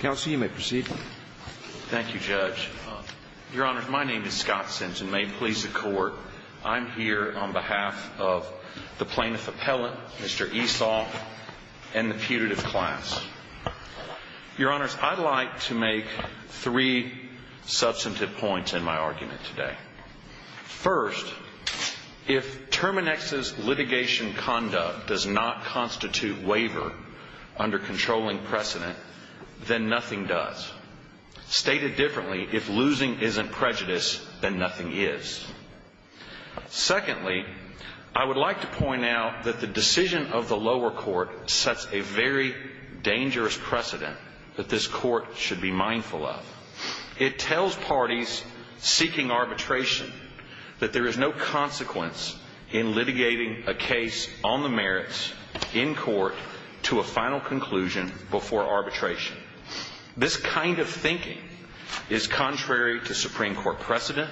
Counsel, you may proceed. Thank you, Judge. Your Honors, my name is Scott Simpson. May it please the Court, I'm here on behalf of the plaintiff appellant, Mr. Eshagh, and the putative class. Your Honors, I'd like to make three substantive points in my argument today. First, if Terminix's litigation conduct does not constitute waiver under controlling precedent, then nothing does. Stated differently, if losing isn't prejudice, then nothing is. Secondly, I would like to point out that the decision of the lower court sets a very dangerous precedent that this court should be mindful of. It tells parties seeking arbitration that there is no consequence in litigating a case on the merits in court to a final conclusion before arbitration. This kind of thinking is contrary to Supreme Court precedent,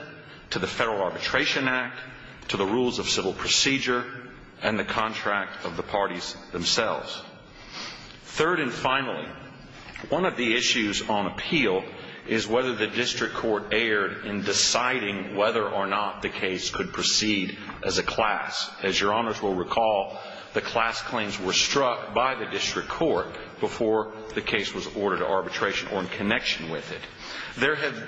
to the Federal Arbitration Act, to the rules of civil procedure, and the contract of the parties themselves. Third and finally, one of the issues on appeal is whether the district court erred in deciding whether or not the case could proceed as a class. As Your Honors will recall, the class claims were struck by the district court before the case was ordered to arbitration or in connection with it.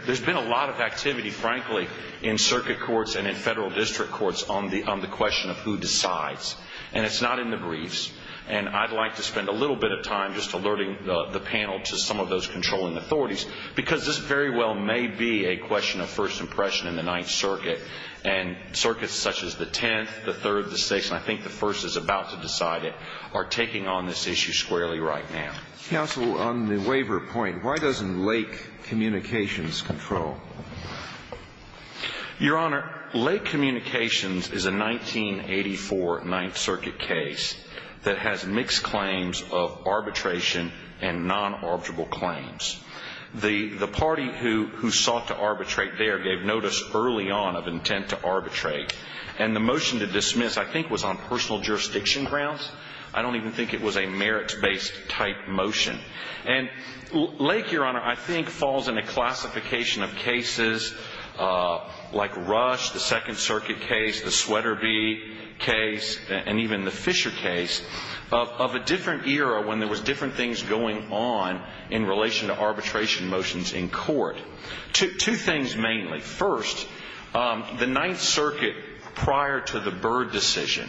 There's been a lot of activity, frankly, in circuit courts and in federal district courts on the question of who decides, and it's not in the briefs. And I'd like to spend a little bit of time just alerting the panel to some of those controlling authorities, because this very well may be a question of first impression in the Ninth Circuit. And circuits such as the Tenth, the Third, the Sixth, and I think the First is about to decide it, are taking on this issue squarely right now. Counsel, on the waiver point, why doesn't Lake Communications control? Your Honor, Lake Communications is a 1984 Ninth Circuit case that has mixed claims of arbitration and non-arbitrable claims. The party who sought to arbitrate there gave notice early on of intent to arbitrate, and the motion to dismiss I think was on personal jurisdiction grounds. I don't even think it was a merits-based type motion. And Lake, Your Honor, I think falls in a classification of cases like Rush, the Second Circuit case, the Swetterbee case, and even the Fisher case of a different era when there was different things going on in relation to arbitration motions in court. Two things mainly. First, the Ninth Circuit prior to the Byrd decision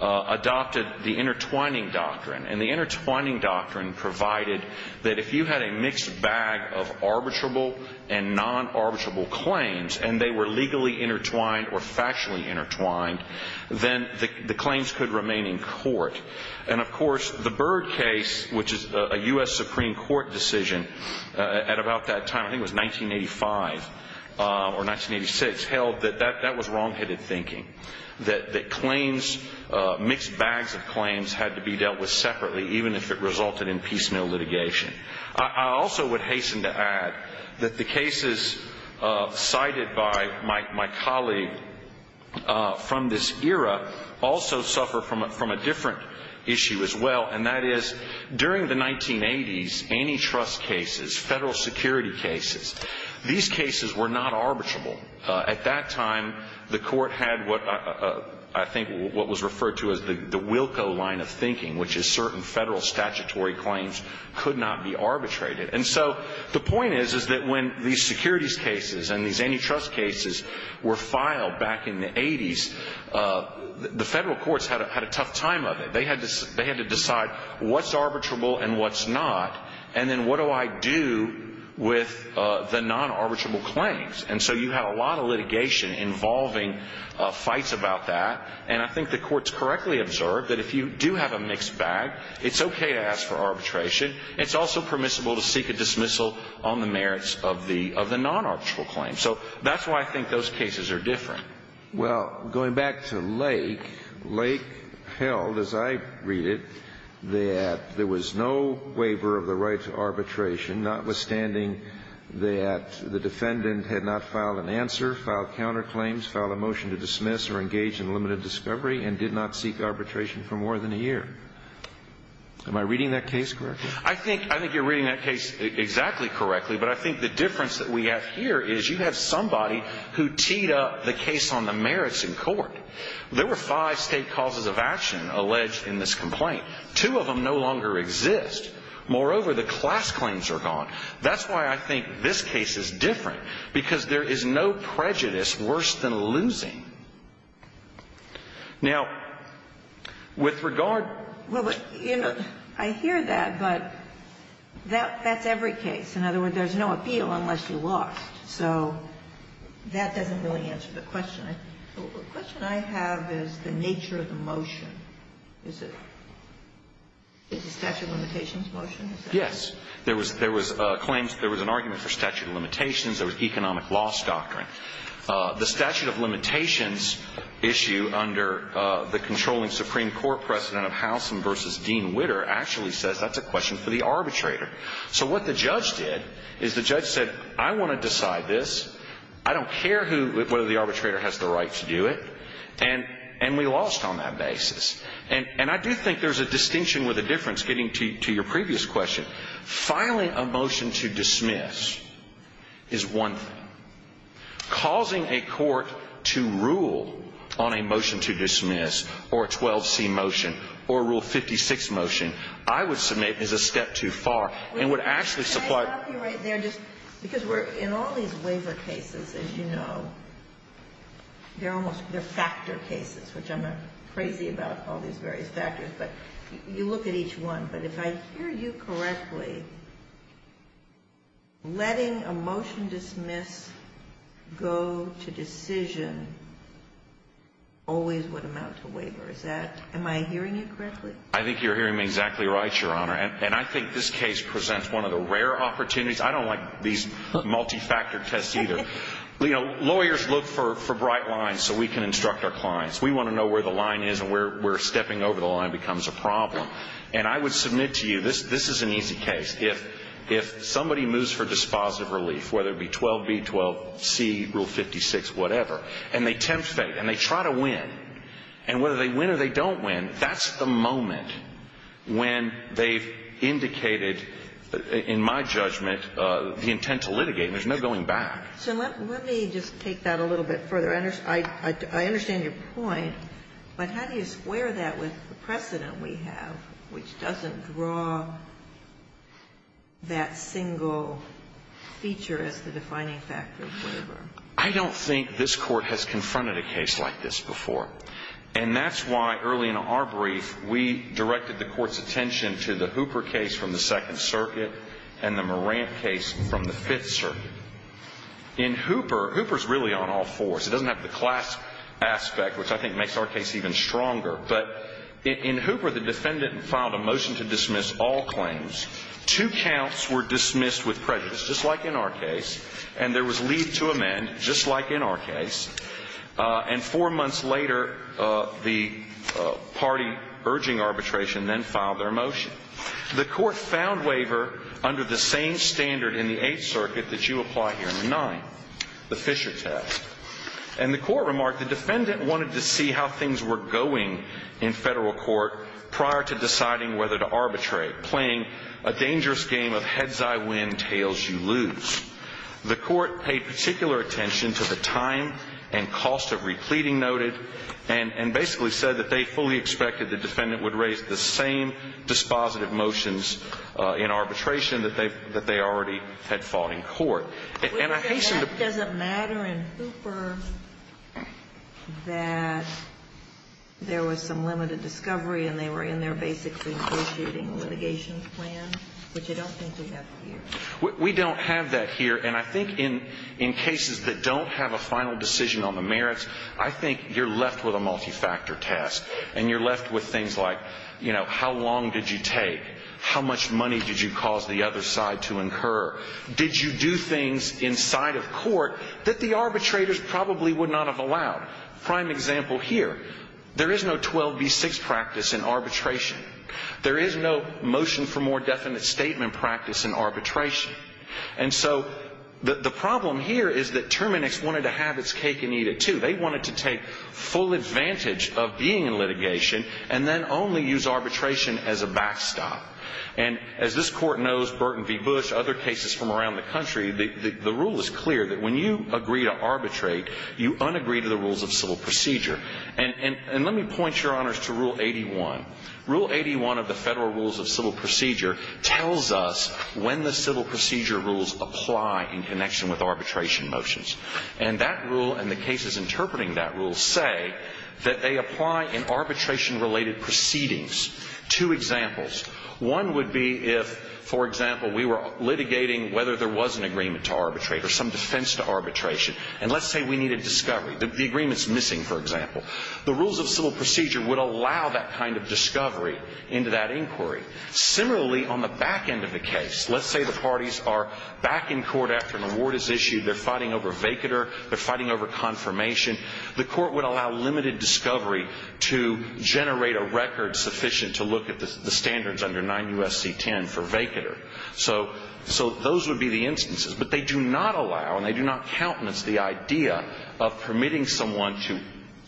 adopted the intertwining doctrine, and the intertwining doctrine provided that if you had a mixed bag of arbitrable and non-arbitrable claims, and they were legally intertwined or factually intertwined, then the claims could remain in court. And, of course, the Byrd case, which is a U.S. Supreme Court decision at about that time, I think it was 1985 or 1986, held that that was wrongheaded thinking, that claims, mixed bags of claims, had to be dealt with separately even if it resulted in piecemeal litigation. I also would hasten to add that the cases cited by my colleague from this era also suffer from a different issue as well, and that is during the 1980s, antitrust cases, federal security cases, these cases were not arbitrable. At that time, the court had what I think was referred to as the Wilco line of thinking, which is certain federal statutory claims could not be arbitrated. And so the point is, is that when these securities cases and these antitrust cases were filed back in the 80s, the federal courts had a tough time of it. They had to decide what's arbitrable and what's not, and then what do I do with the non-arbitrable claims? And so you had a lot of litigation involving fights about that, and I think the courts correctly observed that if you do have a mixed bag, it's okay to ask for arbitration. It's also permissible to seek a dismissal on the merits of the non-arbitrable claims. So that's why I think those cases are different. Well, going back to Lake, Lake held, as I read it, that there was no waiver of the right to arbitration, notwithstanding that the defendant had not filed an answer, filed counterclaims, filed a motion to dismiss or engage in limited discovery, and did not seek arbitration for more than a year. Am I reading that case correctly? I think you're reading that case exactly correctly, but I think the difference that we have here is you have somebody who teed up the case on the merits in court. There were five State causes of action alleged in this complaint. Two of them no longer exist. Moreover, the class claims are gone. That's why I think this case is different, because there is no prejudice worse than losing. Now, with regard to the case of Lake, Lake, and Lake, I hear that, but that's every case. In other words, there's no appeal unless you lost. So that doesn't really answer the question. The question I have is the nature of the motion. Is it a statute of limitations motion? Yes. There was a claim. There was an argument for statute of limitations. There was economic loss doctrine. The statute of limitations issue under the controlling Supreme Court precedent of Howsam v. Dean Witter actually says that's a question for the arbitrator. So what the judge did is the judge said, I want to decide this. I don't care whether the arbitrator has the right to do it. And we lost on that basis. And I do think there's a distinction with a difference getting to your previous question. Filing a motion to dismiss is one thing. Causing a court to rule on a motion to dismiss or a 12C motion or a Rule 56 motion, I would submit, is a step too far. And would actually supply. Can I stop you right there? Just because we're in all these waiver cases, as you know, they're almost, they're factor cases, which I'm not crazy about all these various factors. But you look at each one. But if I hear you correctly, letting a motion dismiss go to decision always would amount to waiver. Is that, am I hearing you correctly? I think you're hearing me exactly right, Your Honor. And I think this case presents one of the rare opportunities. I don't like these multi-factor tests either. You know, lawyers look for bright lines so we can instruct our clients. We want to know where the line is and where stepping over the line becomes a problem. And I would submit to you, this is an easy case. If somebody moves for dispositive relief, whether it be 12B, 12C, Rule 56, whatever, and they tempt fate and they try to win, and whether they win or they don't win, that's the moment when they've indicated, in my judgment, the intent to litigate. There's no going back. So let me just take that a little bit further. I understand your point. But how do you square that with the precedent we have, which doesn't draw that single feature as the defining factor of waiver? I don't think this Court has confronted a case like this before. And that's why, early in our brief, we directed the Court's attention to the Hooper case from the Second Circuit and the Morant case from the Fifth Circuit. In Hooper, Hooper's really on all fours. It doesn't have the class aspect, which I think makes our case even stronger. But in Hooper, the defendant filed a motion to dismiss all claims. Two counts were dismissed with prejudice, just like in our case, and there was leave to amend, just like in our case. And four months later, the party urging arbitration then filed their motion. The Court found waiver under the same standard in the Eighth Circuit that you apply here in the Ninth, the Fisher test. And the Court remarked, the defendant wanted to see how things were going in federal court prior to deciding whether to arbitrate, playing a dangerous game of heads I win, tails you lose. The Court paid particular attention to the time and cost of repleting noted and basically said that they fully expected the defendant would raise the same dispositive motions in arbitration that they already had filed in court. And I hasten to... But that doesn't matter in Hooper that there was some limited discovery and they were in their basic negotiating litigation plan, which I don't think we have here. We don't have that here, and I think in cases that don't have a final decision on the merits, I think you're left with a multi-factor test and you're left with things like, you know, how long did you take? How much money did you cause the other side to incur? Did you do things inside of court that the arbitrators probably would not have allowed? Prime example here, there is no 12B6 practice in arbitration. There is no motion for more definite statement practice in arbitration. And so the problem here is that Terminix wanted to have its cake and eat it too. They wanted to take full advantage of being in litigation and then only use arbitration as a backstop. And as this Court knows, Burton v. Bush, other cases from around the country, the rule is clear that when you agree to arbitrate, you unagree to the rules of civil procedure. And let me point, Your Honors, to Rule 81. Rule 81 of the Federal Rules of Civil Procedure tells us when the civil procedure rules apply in connection with arbitration motions. And that rule and the cases interpreting that rule say that they apply in arbitration-related proceedings. Two examples. One would be if, for example, we were litigating whether there was an agreement to arbitrate or some defense to arbitration, and let's say we needed discovery. The agreement's missing, for example. The rules of civil procedure would allow that kind of discovery into that inquiry. Similarly, on the back end of the case, let's say the parties are back in court after an award is issued. They're fighting over vacater. They're fighting over confirmation. The Court would allow limited discovery to generate a record sufficient to look at the standards under 9 U.S.C. 10 for vacater. So those would be the instances. But they do not allow, and they do not countenance, the idea of permitting someone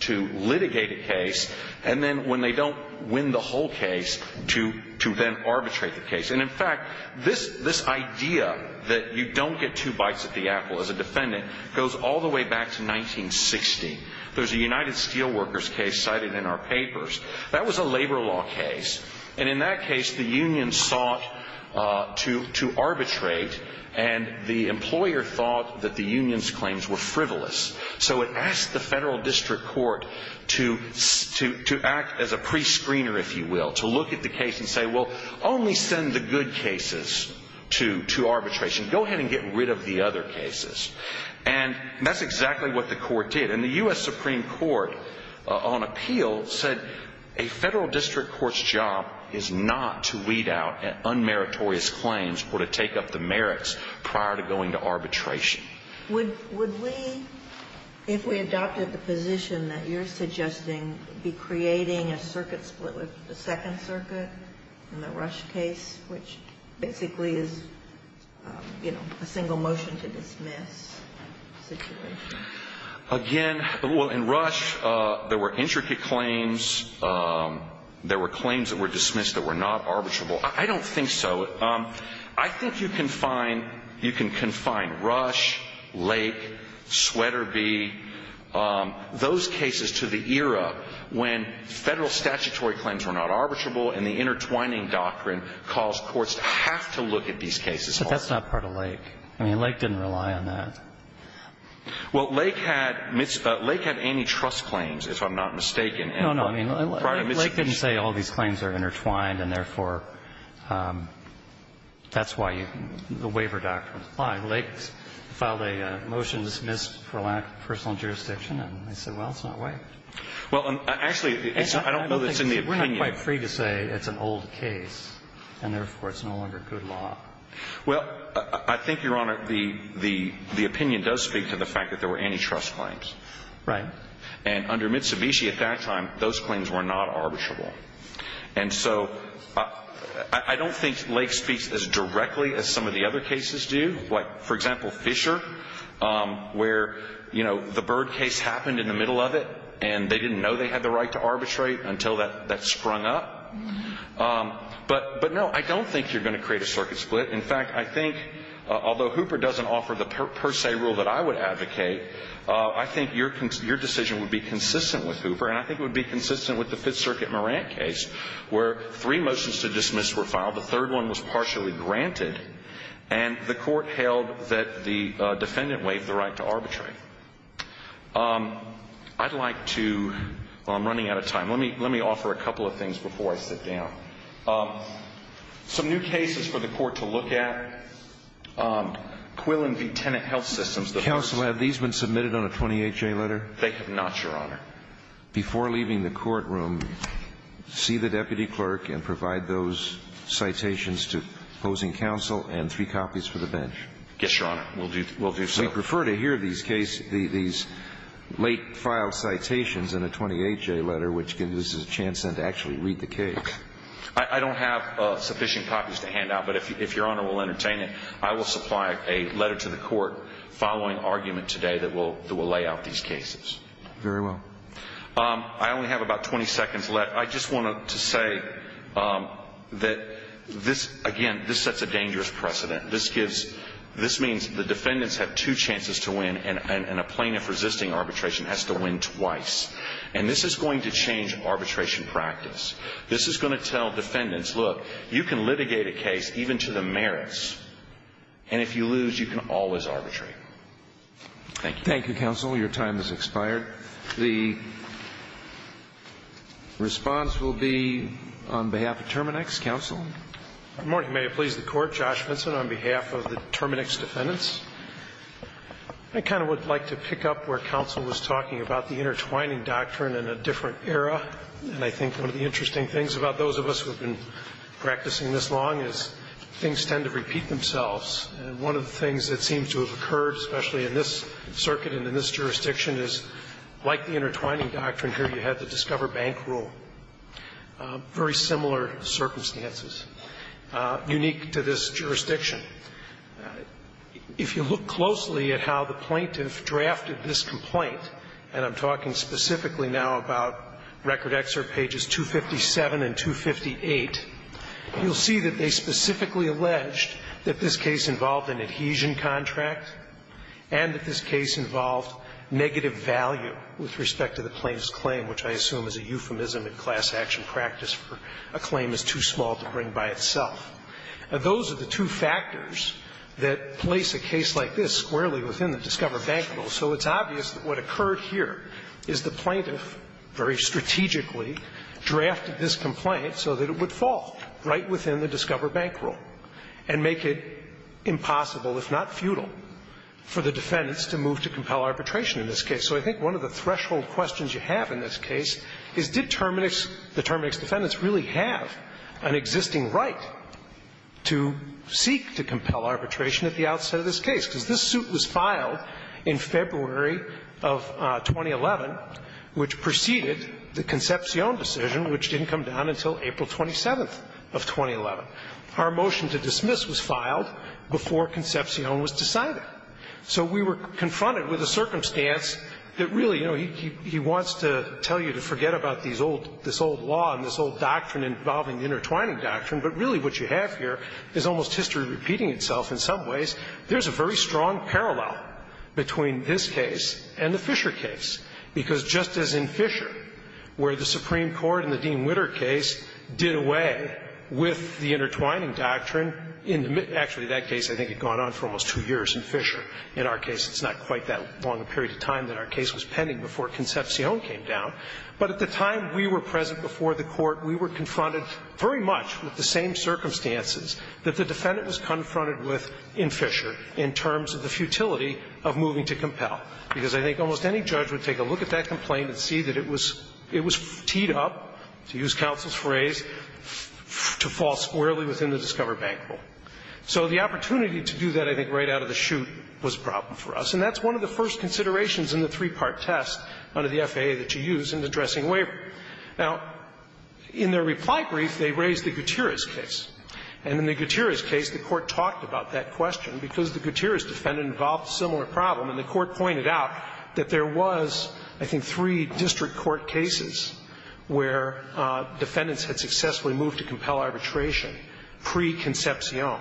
to litigate a case and then, when they don't win the whole case, to then arbitrate the case. And, in fact, this idea that you don't get two bites at the apple as a defendant goes all the way back to 1960. There's a United Steelworkers case cited in our papers. That was a labor law case. And in that case, the union sought to arbitrate, and the employer thought that the union's claims were frivolous. So it asked the federal district court to act as a prescreener, if you will, to look at the case and say, well, only send the good cases to arbitration. Go ahead and get rid of the other cases. And that's exactly what the court did. And the U.S. Supreme Court, on appeal, said a federal district court's job is not to weed out unmeritorious claims or to take up the merits prior to going to arbitration. Would we, if we adopted the position that you're suggesting, be creating a circuit split with the Second Circuit in the Rush case, which basically is a single motion to dismiss situation? Again, well, in Rush, there were intricate claims. There were claims that were dismissed that were not arbitrable. I don't think so. I think you can confine Rush, Lake, Sweaterby, those cases to the era when federal statutory claims were not arbitrable and the intertwining doctrine caused courts to have to look at these cases. But that's not part of Lake. I mean, Lake didn't rely on that. Well, Lake had antitrust claims, if I'm not mistaken. No, no. I mean, Lake didn't say all these claims are intertwined and, therefore, that's why the waiver doctrine was applied. Lake filed a motion to dismiss for lack of personal jurisdiction, and they said, well, it's not waived. Well, actually, I don't know that it's in the opinion. We're not quite free to say it's an old case and, therefore, it's no longer good law. Well, I think, Your Honor, the opinion does speak to the fact that there were antitrust claims. Right. And under Mitsubishi at that time, those claims were not arbitrable. And so I don't think Lake speaks as directly as some of the other cases do, like, for example, Fisher, where, you know, the Bird case happened in the middle of it and they didn't know they had the right to arbitrate until that sprung up. But, no, I don't think you're going to create a circuit split. In fact, I think, although Hooper doesn't offer the per se rule that I would advocate, I think your decision would be consistent with Hooper, and I think it would be consistent with the Fifth Circuit Morant case, where three motions to dismiss were filed, the third one was partially granted, and the court held that the defendant waived the right to arbitrate. I'd like to – well, I'm running out of time. Let me offer a couple of things before I sit down. Some new cases for the court to look at. Quillen v. Tenet Health Systems. Counsel, have these been submitted on a 28-J letter? They have not, Your Honor. Before leaving the courtroom, see the deputy clerk and provide those citations to opposing counsel and three copies for the bench. Yes, Your Honor. We'll do so. We prefer to hear these late-filed citations in a 28-J letter, which gives us a chance then to actually read the case. I don't have sufficient copies to hand out, but if Your Honor will entertain it, I will supply a letter to the court following argument today that will lay out these cases. Very well. I only have about 20 seconds left. I just wanted to say that this, again, this sets a dangerous precedent. This gives – this means the defendants have two chances to win, and a plaintiff resisting arbitration has to win twice. And this is going to change arbitration practice. This is going to tell defendants, look, you can litigate a case even to the merits, and if you lose, you can always arbitrate. Thank you. Thank you, counsel. Your time has expired. The response will be on behalf of Terminex. Counsel. Good morning. May it please the Court. Josh Vinson on behalf of the Terminex defendants. I kind of would like to pick up where counsel was talking about the intertwining doctrine in a different era. And I think one of the interesting things about those of us who have been practicing this long is things tend to repeat themselves. And one of the things that seems to have occurred, especially in this circuit and in this jurisdiction, is like the intertwining doctrine here, you had the Discover Bank Rule, very similar circumstances, unique to this jurisdiction. If you look closely at how the plaintiff drafted this complaint, and I'm talking specifically now about Record Excerpt pages 257 and 258, you'll see that they specifically alleged that this case involved an adhesion contract and that this case involved negative value with respect to the plaintiff's claim, which I assume is a euphemism in class action practice for a claim is too small to bring by itself. Those are the two factors that place a case like this squarely within the Discover Bank Rule. So it's obvious that what occurred here is the plaintiff very strategically drafted this complaint so that it would fall right within the Discover Bank Rule and make it impossible, if not futile, for the defendants to move to compel arbitration in this case. So I think one of the threshold questions you have in this case is did the Terminix defendants really have an existing right to seek to compel arbitration at the outset of this case? Because this suit was filed in February of 2011, which preceded the Concepcion decision, which didn't come down until April 27th of 2011. Our motion to dismiss was filed before Concepcion was decided. So we were confronted with a circumstance that really, you know, he wants to tell you to forget about these old – this old law and this old doctrine involving the intertwining doctrine, but really what you have here is almost history repeating itself in some ways. There's a very strong parallel between this case and the Fisher case, because just as in Fisher, where the Supreme Court in the Dean Witter case did away with the intertwining doctrine in the – actually, that case I think had gone on for almost two years in Fisher. In our case, it's not quite that long a period of time that our case was pending before Concepcion came down. But at the time we were present before the Court, we were confronted very much with the same circumstances that the defendant was confronted with in Fisher in terms of the futility of moving to compel, because I think almost any judge would take a look at that complaint and see that it was – it was teed up, to use counsel's phrase, to fall squarely within the Discover Bank rule. So the opportunity to do that, I think, right out of the chute was a problem for us, and that's one of the first considerations in the three-part test under the FAA that you use in addressing waiver. Now, in their reply brief, they raised the Gutierrez case. And in the Gutierrez case, the Court talked about that question because the Gutierrez defendant involved a similar problem, and the Court pointed out that there was, I think, three district court cases where defendants had successfully moved to compel arbitration pre-Concepcion.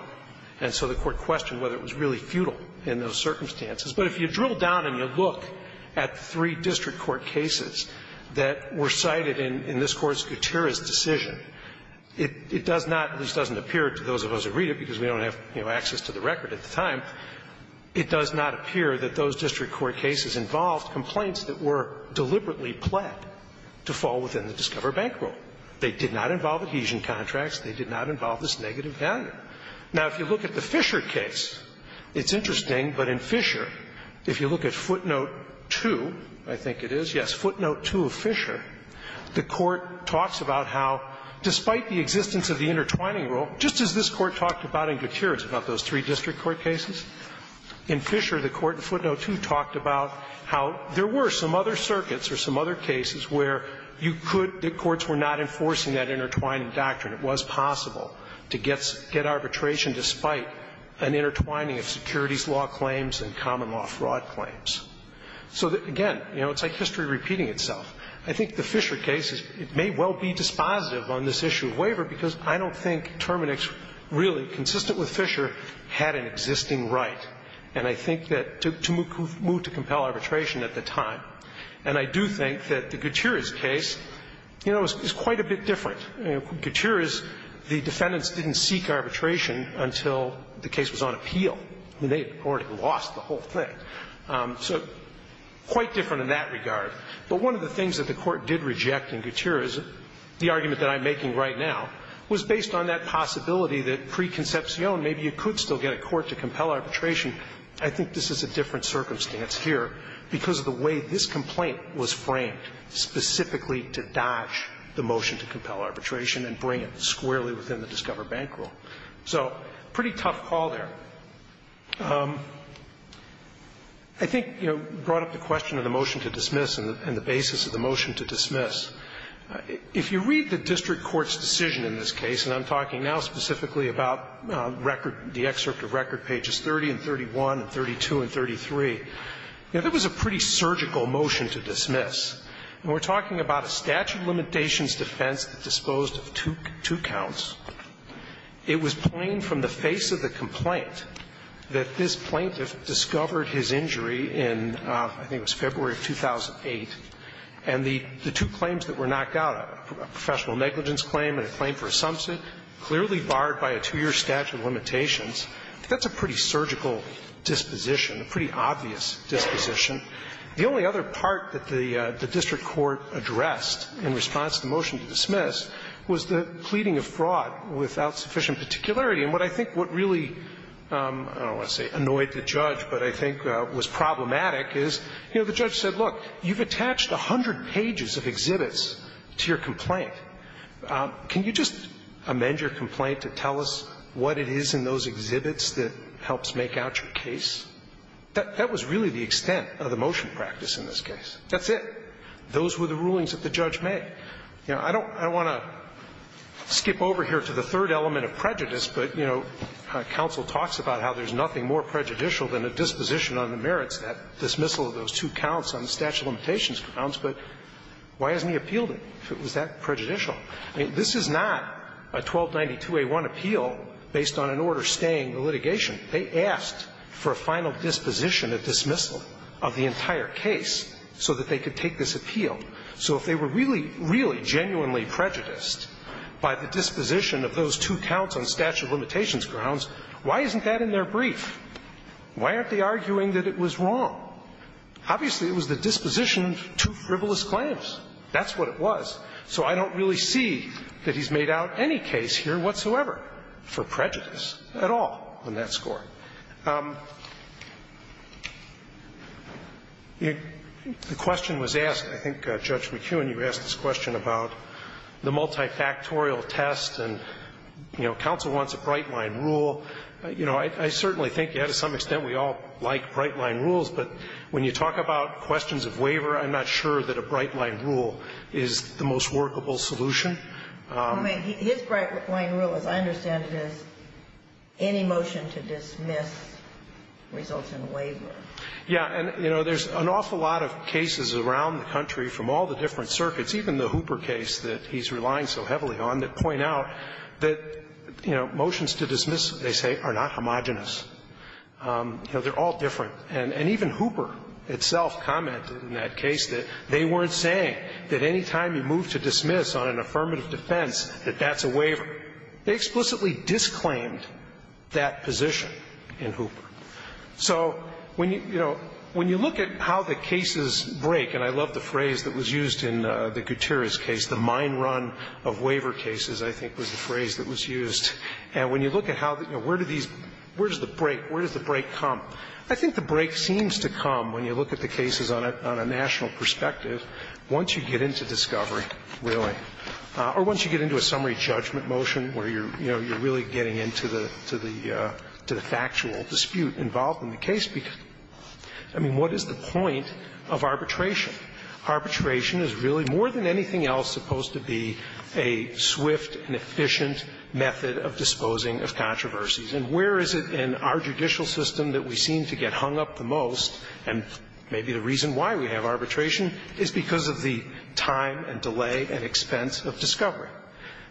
And so the Court questioned whether it was really futile in those circumstances. But if you drill down and you look at the three district court cases that were cited in this Court's Gutierrez decision, it does not, at least doesn't appear to those of us who read it, because we don't have, you know, access to the record at the time, it does not appear that those district court cases involved complaints that were deliberately pled to fall within the Discover Bank rule. They did not involve adhesion contracts. They did not involve this negative value. Now, if you look at the Fisher case, it's interesting, but in Fisher, if you look at footnote 2, I think it is, yes, footnote 2 of Fisher, the Court talks about how, despite the existence of the intertwining rule, just as this Court talked about in Gutierrez about those three district court cases, in Fisher the Court in footnote 2 talked about how there were some other circuits or some other cases where you could get arbitration despite an intertwining of securities law claims and common law fraud claims. So, again, you know, it's like history repeating itself. I think the Fisher case, it may well be dispositive on this issue of waiver because I don't think Terminix really, consistent with Fisher, had an existing right, and I think that to move to compel arbitration at the time. And I do think that the Gutierrez case, you know, is quite a bit different. Gutierrez, the defendants didn't seek arbitration until the case was on appeal. They had already lost the whole thing. So quite different in that regard. But one of the things that the Court did reject in Gutierrez, the argument that I'm making right now, was based on that possibility that preconcepcion, maybe you could still get a court to compel arbitration. I think this is a different circumstance here because of the way this complaint was framed, specifically to dodge the motion to compel arbitration and bring it squarely within the Discover Bank rule. So, pretty tough call there. I think, you know, brought up the question of the motion to dismiss and the basis of the motion to dismiss. If you read the district court's decision in this case, and I'm talking now specifically about record, the excerpt of record, pages 30 and 31 and 32 and 33, you know, that was a pretty surgical motion to dismiss. And we're talking about a statute of limitations defense that disposed of two counts. It was plain from the face of the complaint that this plaintiff discovered his injury in, I think it was February of 2008, and the two claims that were knocked out, a professional negligence claim and a claim for a sumsit, clearly barred by a two-year statute of limitations. That's a pretty surgical disposition, a pretty obvious disposition. The only other part that the district court addressed in response to the motion to dismiss was the pleading of fraud without sufficient particularity. And what I think what really, I don't want to say annoyed the judge, but I think was problematic is, you know, the judge said, look, you've attached 100 pages of exhibits to your complaint. Can you just amend your complaint to tell us what it is in those exhibits that helps make out your case? That was really the extent of the motion practice in this case. That's it. Those were the rulings that the judge made. You know, I don't want to skip over here to the third element of prejudice, but, you know, counsel talks about how there's nothing more prejudicial than a disposition on the merits that dismissal of those two counts on the statute of limitations grounds, but why hasn't he appealed it, if it was that prejudicial? I mean, this is not a 1292a1 appeal based on an order staying the litigation. They asked for a final disposition of dismissal of the entire case so that they could take this appeal. So if they were really, really genuinely prejudiced by the disposition of those two counts on statute of limitations grounds, why isn't that in their brief? Why aren't they arguing that it was wrong? Obviously, it was the disposition of two frivolous claims. That's what it was. So I don't really see that he's made out any case here whatsoever for prejudice at all on that score. The question was asked, I think, Judge McEwen, you asked this question about the multifactorial test and, you know, counsel wants a bright-line rule. You know, I certainly think, yeah, to some extent we all like bright-line rules, but when you talk about questions of waiver, I'm not sure that a bright-line rule is the most workable solution. I mean, his bright-line rule, as I understand it, is any motion to dismiss results in a waiver. Yeah. And, you know, there's an awful lot of cases around the country from all the different circuits, even the Hooper case that he's relying so heavily on, that point out that, you know, motions to dismiss, they say, are not homogenous. You know, they're all different. And even Hooper itself commented in that case that they weren't saying that any time you move to dismiss on an affirmative defense, that that's a waiver. They explicitly disclaimed that position in Hooper. So when you, you know, when you look at how the cases break, and I love the phrase that was used in the Gutierrez case, the mine run of waiver cases, I think, was the phrase that was used. And when you look at how, you know, where do these – where does the break – where does the break come? I think the break seems to come when you look at the cases on a national perspective once you get into discovery, really, or once you get into a summary judgment motion where you're, you know, you're really getting into the – to the factual dispute involved in the case. I mean, what is the point of arbitration? Arbitration is really, more than anything else, supposed to be a swift and efficient method of disposing of controversies. And where is it in our judicial system that we seem to get hung up the most, and maybe the reason why we have arbitration, is because of the time and delay and expense of discovery.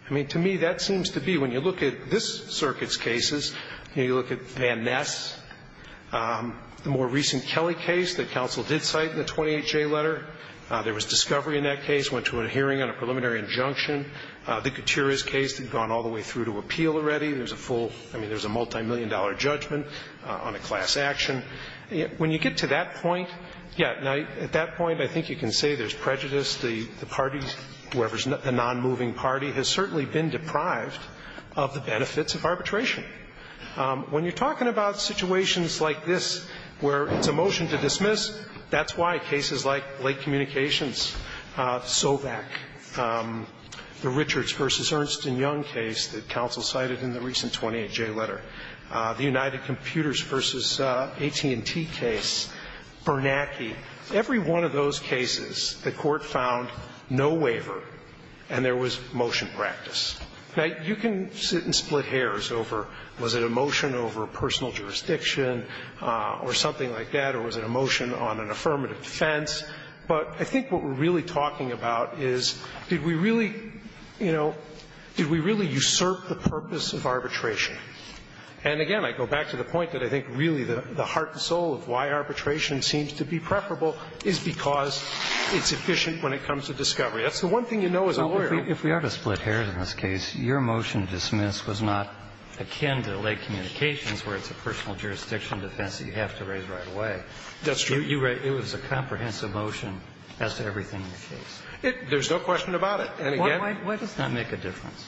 I mean, to me, that seems to be – when you look at this circuit's cases, you know, you look at Van Ness, the more recent Kelly case that counsel did cite in the 28J letter, there was discovery in that case, went to a hearing on a preliminary injunction. The Gutierrez case had gone all the way through to appeal already. There's a full – I mean, there's a multimillion-dollar judgment on a class action. When you get to that point, yeah, at that point, I think you can say there's prejudice. The party, whoever's the nonmoving party, has certainly been deprived of the benefits of arbitration. When you're talking about situations like this where it's a motion to dismiss, that's why cases like Lake Communications, Sovak, the Richards v. Ernst & Young case that counsel cited in the recent 28J letter, the United Computers v. AT&T case, Bernanke, every one of those cases, the Court found no waiver and there was motion practice. Now, you can sit and split hairs over was it a motion over personal jurisdiction or something like that, or was it a motion on an affirmative defense. But I think what we're really talking about is did we really, you know, did we really usurp the purpose of arbitration? And again, I go back to the point that I think really the heart and soul of why arbitration seems to be preferable is because it's efficient when it comes to discovery. That's the one thing you know as a lawyer. Kennedy. If we are to split hairs in this case, your motion to dismiss was not akin to Lake Communications, where it's a personal jurisdiction defense that you have to raise right away. That's true. But it was a comprehensive motion as to everything in the case. There's no question about it. And again Why does that make a difference?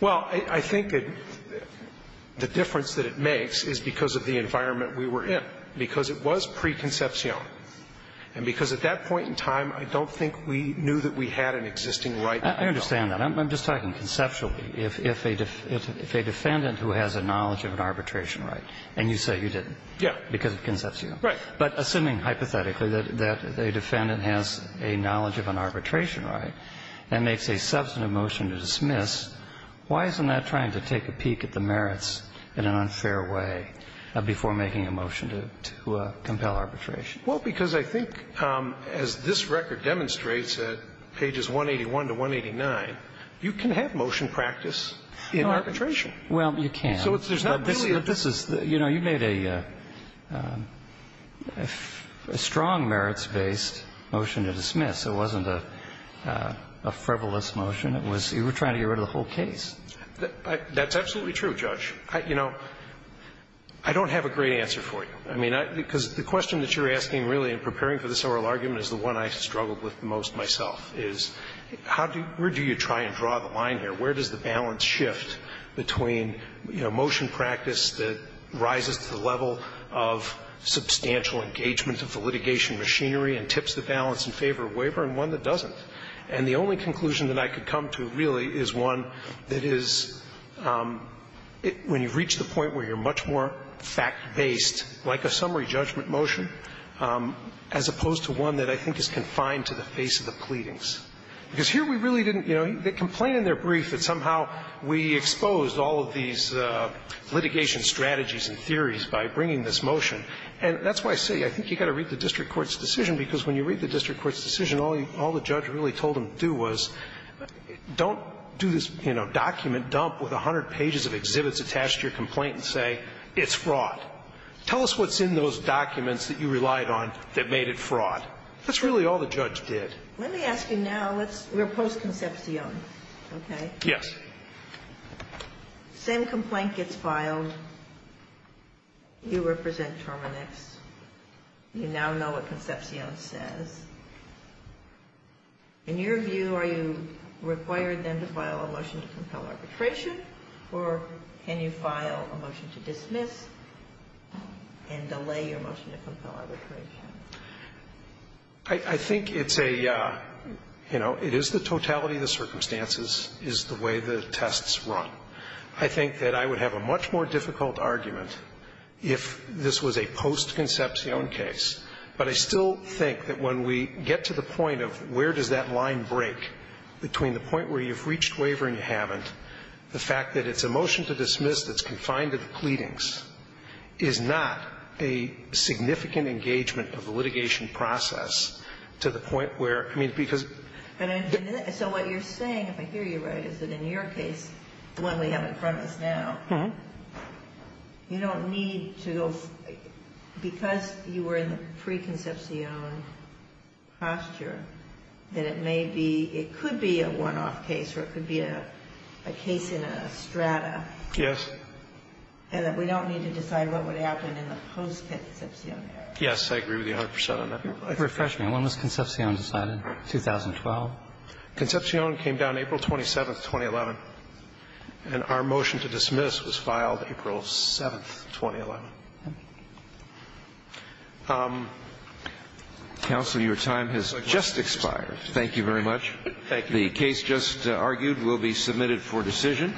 Well, I think the difference that it makes is because of the environment we were in, because it was preconception. And because at that point in time, I don't think we knew that we had an existing right. I understand that. I'm just talking conceptually. If a defendant who has a knowledge of an arbitration right, and you say you didn't because of conception. Right. But assuming hypothetically that a defendant has a knowledge of an arbitration right and makes a substantive motion to dismiss, why isn't that trying to take a peek at the merits in an unfair way before making a motion to compel arbitration? Well, because I think, as this record demonstrates at pages 181 to 189, you can have motion practice in arbitration. Well, you can. So there's not really a You know, you made a strong merits-based motion to dismiss. It wasn't a frivolous motion. It was you were trying to get rid of the whole case. That's absolutely true, Judge. You know, I don't have a great answer for you. I mean, because the question that you're asking really in preparing for this oral argument is the one I struggled with most myself, is where do you try and draw the line here? Where does the balance shift between, you know, motion practice that rises to the level of substantial engagement of the litigation machinery and tips the balance in favor of waiver and one that doesn't? And the only conclusion that I could come to really is one that is, when you reach the point where you're much more fact-based, like a summary judgment motion, as opposed to one that I think is confined to the face of the pleadings. Because here we really didn't, you know, they complain in their brief that somehow we exposed all of these litigation strategies and theories by bringing this motion. And that's why I say I think you've got to read the district court's decision, because when you read the district court's decision, all the judge really told him to do was don't do this, you know, document dump with 100 pages of exhibits attached to your complaint and say it's fraud. Tell us what's in those documents that you relied on that made it fraud. That's really all the judge did. Let me ask you now, let's, we're post-Concepcion, okay? Yes. Same complaint gets filed, you represent Terminix, you now know what Concepcion says. In your view, are you required then to file a motion to compel arbitration, or can you file a motion to dismiss and delay your motion to compel arbitration? I think it's a, you know, it is the totality of the circumstances, is the way the tests run. I think that I would have a much more difficult argument if this was a post-Concepcion case. But I still think that when we get to the point of where does that line break between the point where you've reached waiver and you haven't, the fact that it's a motion to dismiss that's confined to the pleadings is not a significant engagement of the litigation process to the point where, I mean, because. And so what you're saying, if I hear you right, is that in your case, the one we have in front of us now, you don't need to, because you were in the pre-Concepcion posture, that it may be, it could be a one-off case or it could be a case in a strata Yes. And that we don't need to decide what would happen in the post-Concepcion area. Yes, I agree with you 100 percent on that. Refresh me. When was Concepcion decided? 2012? Concepcion came down April 27th, 2011. And our motion to dismiss was filed April 7th, 2011. Counsel, your time has just expired. Thank you very much. Thank you. The case just argued will be submitted for decision.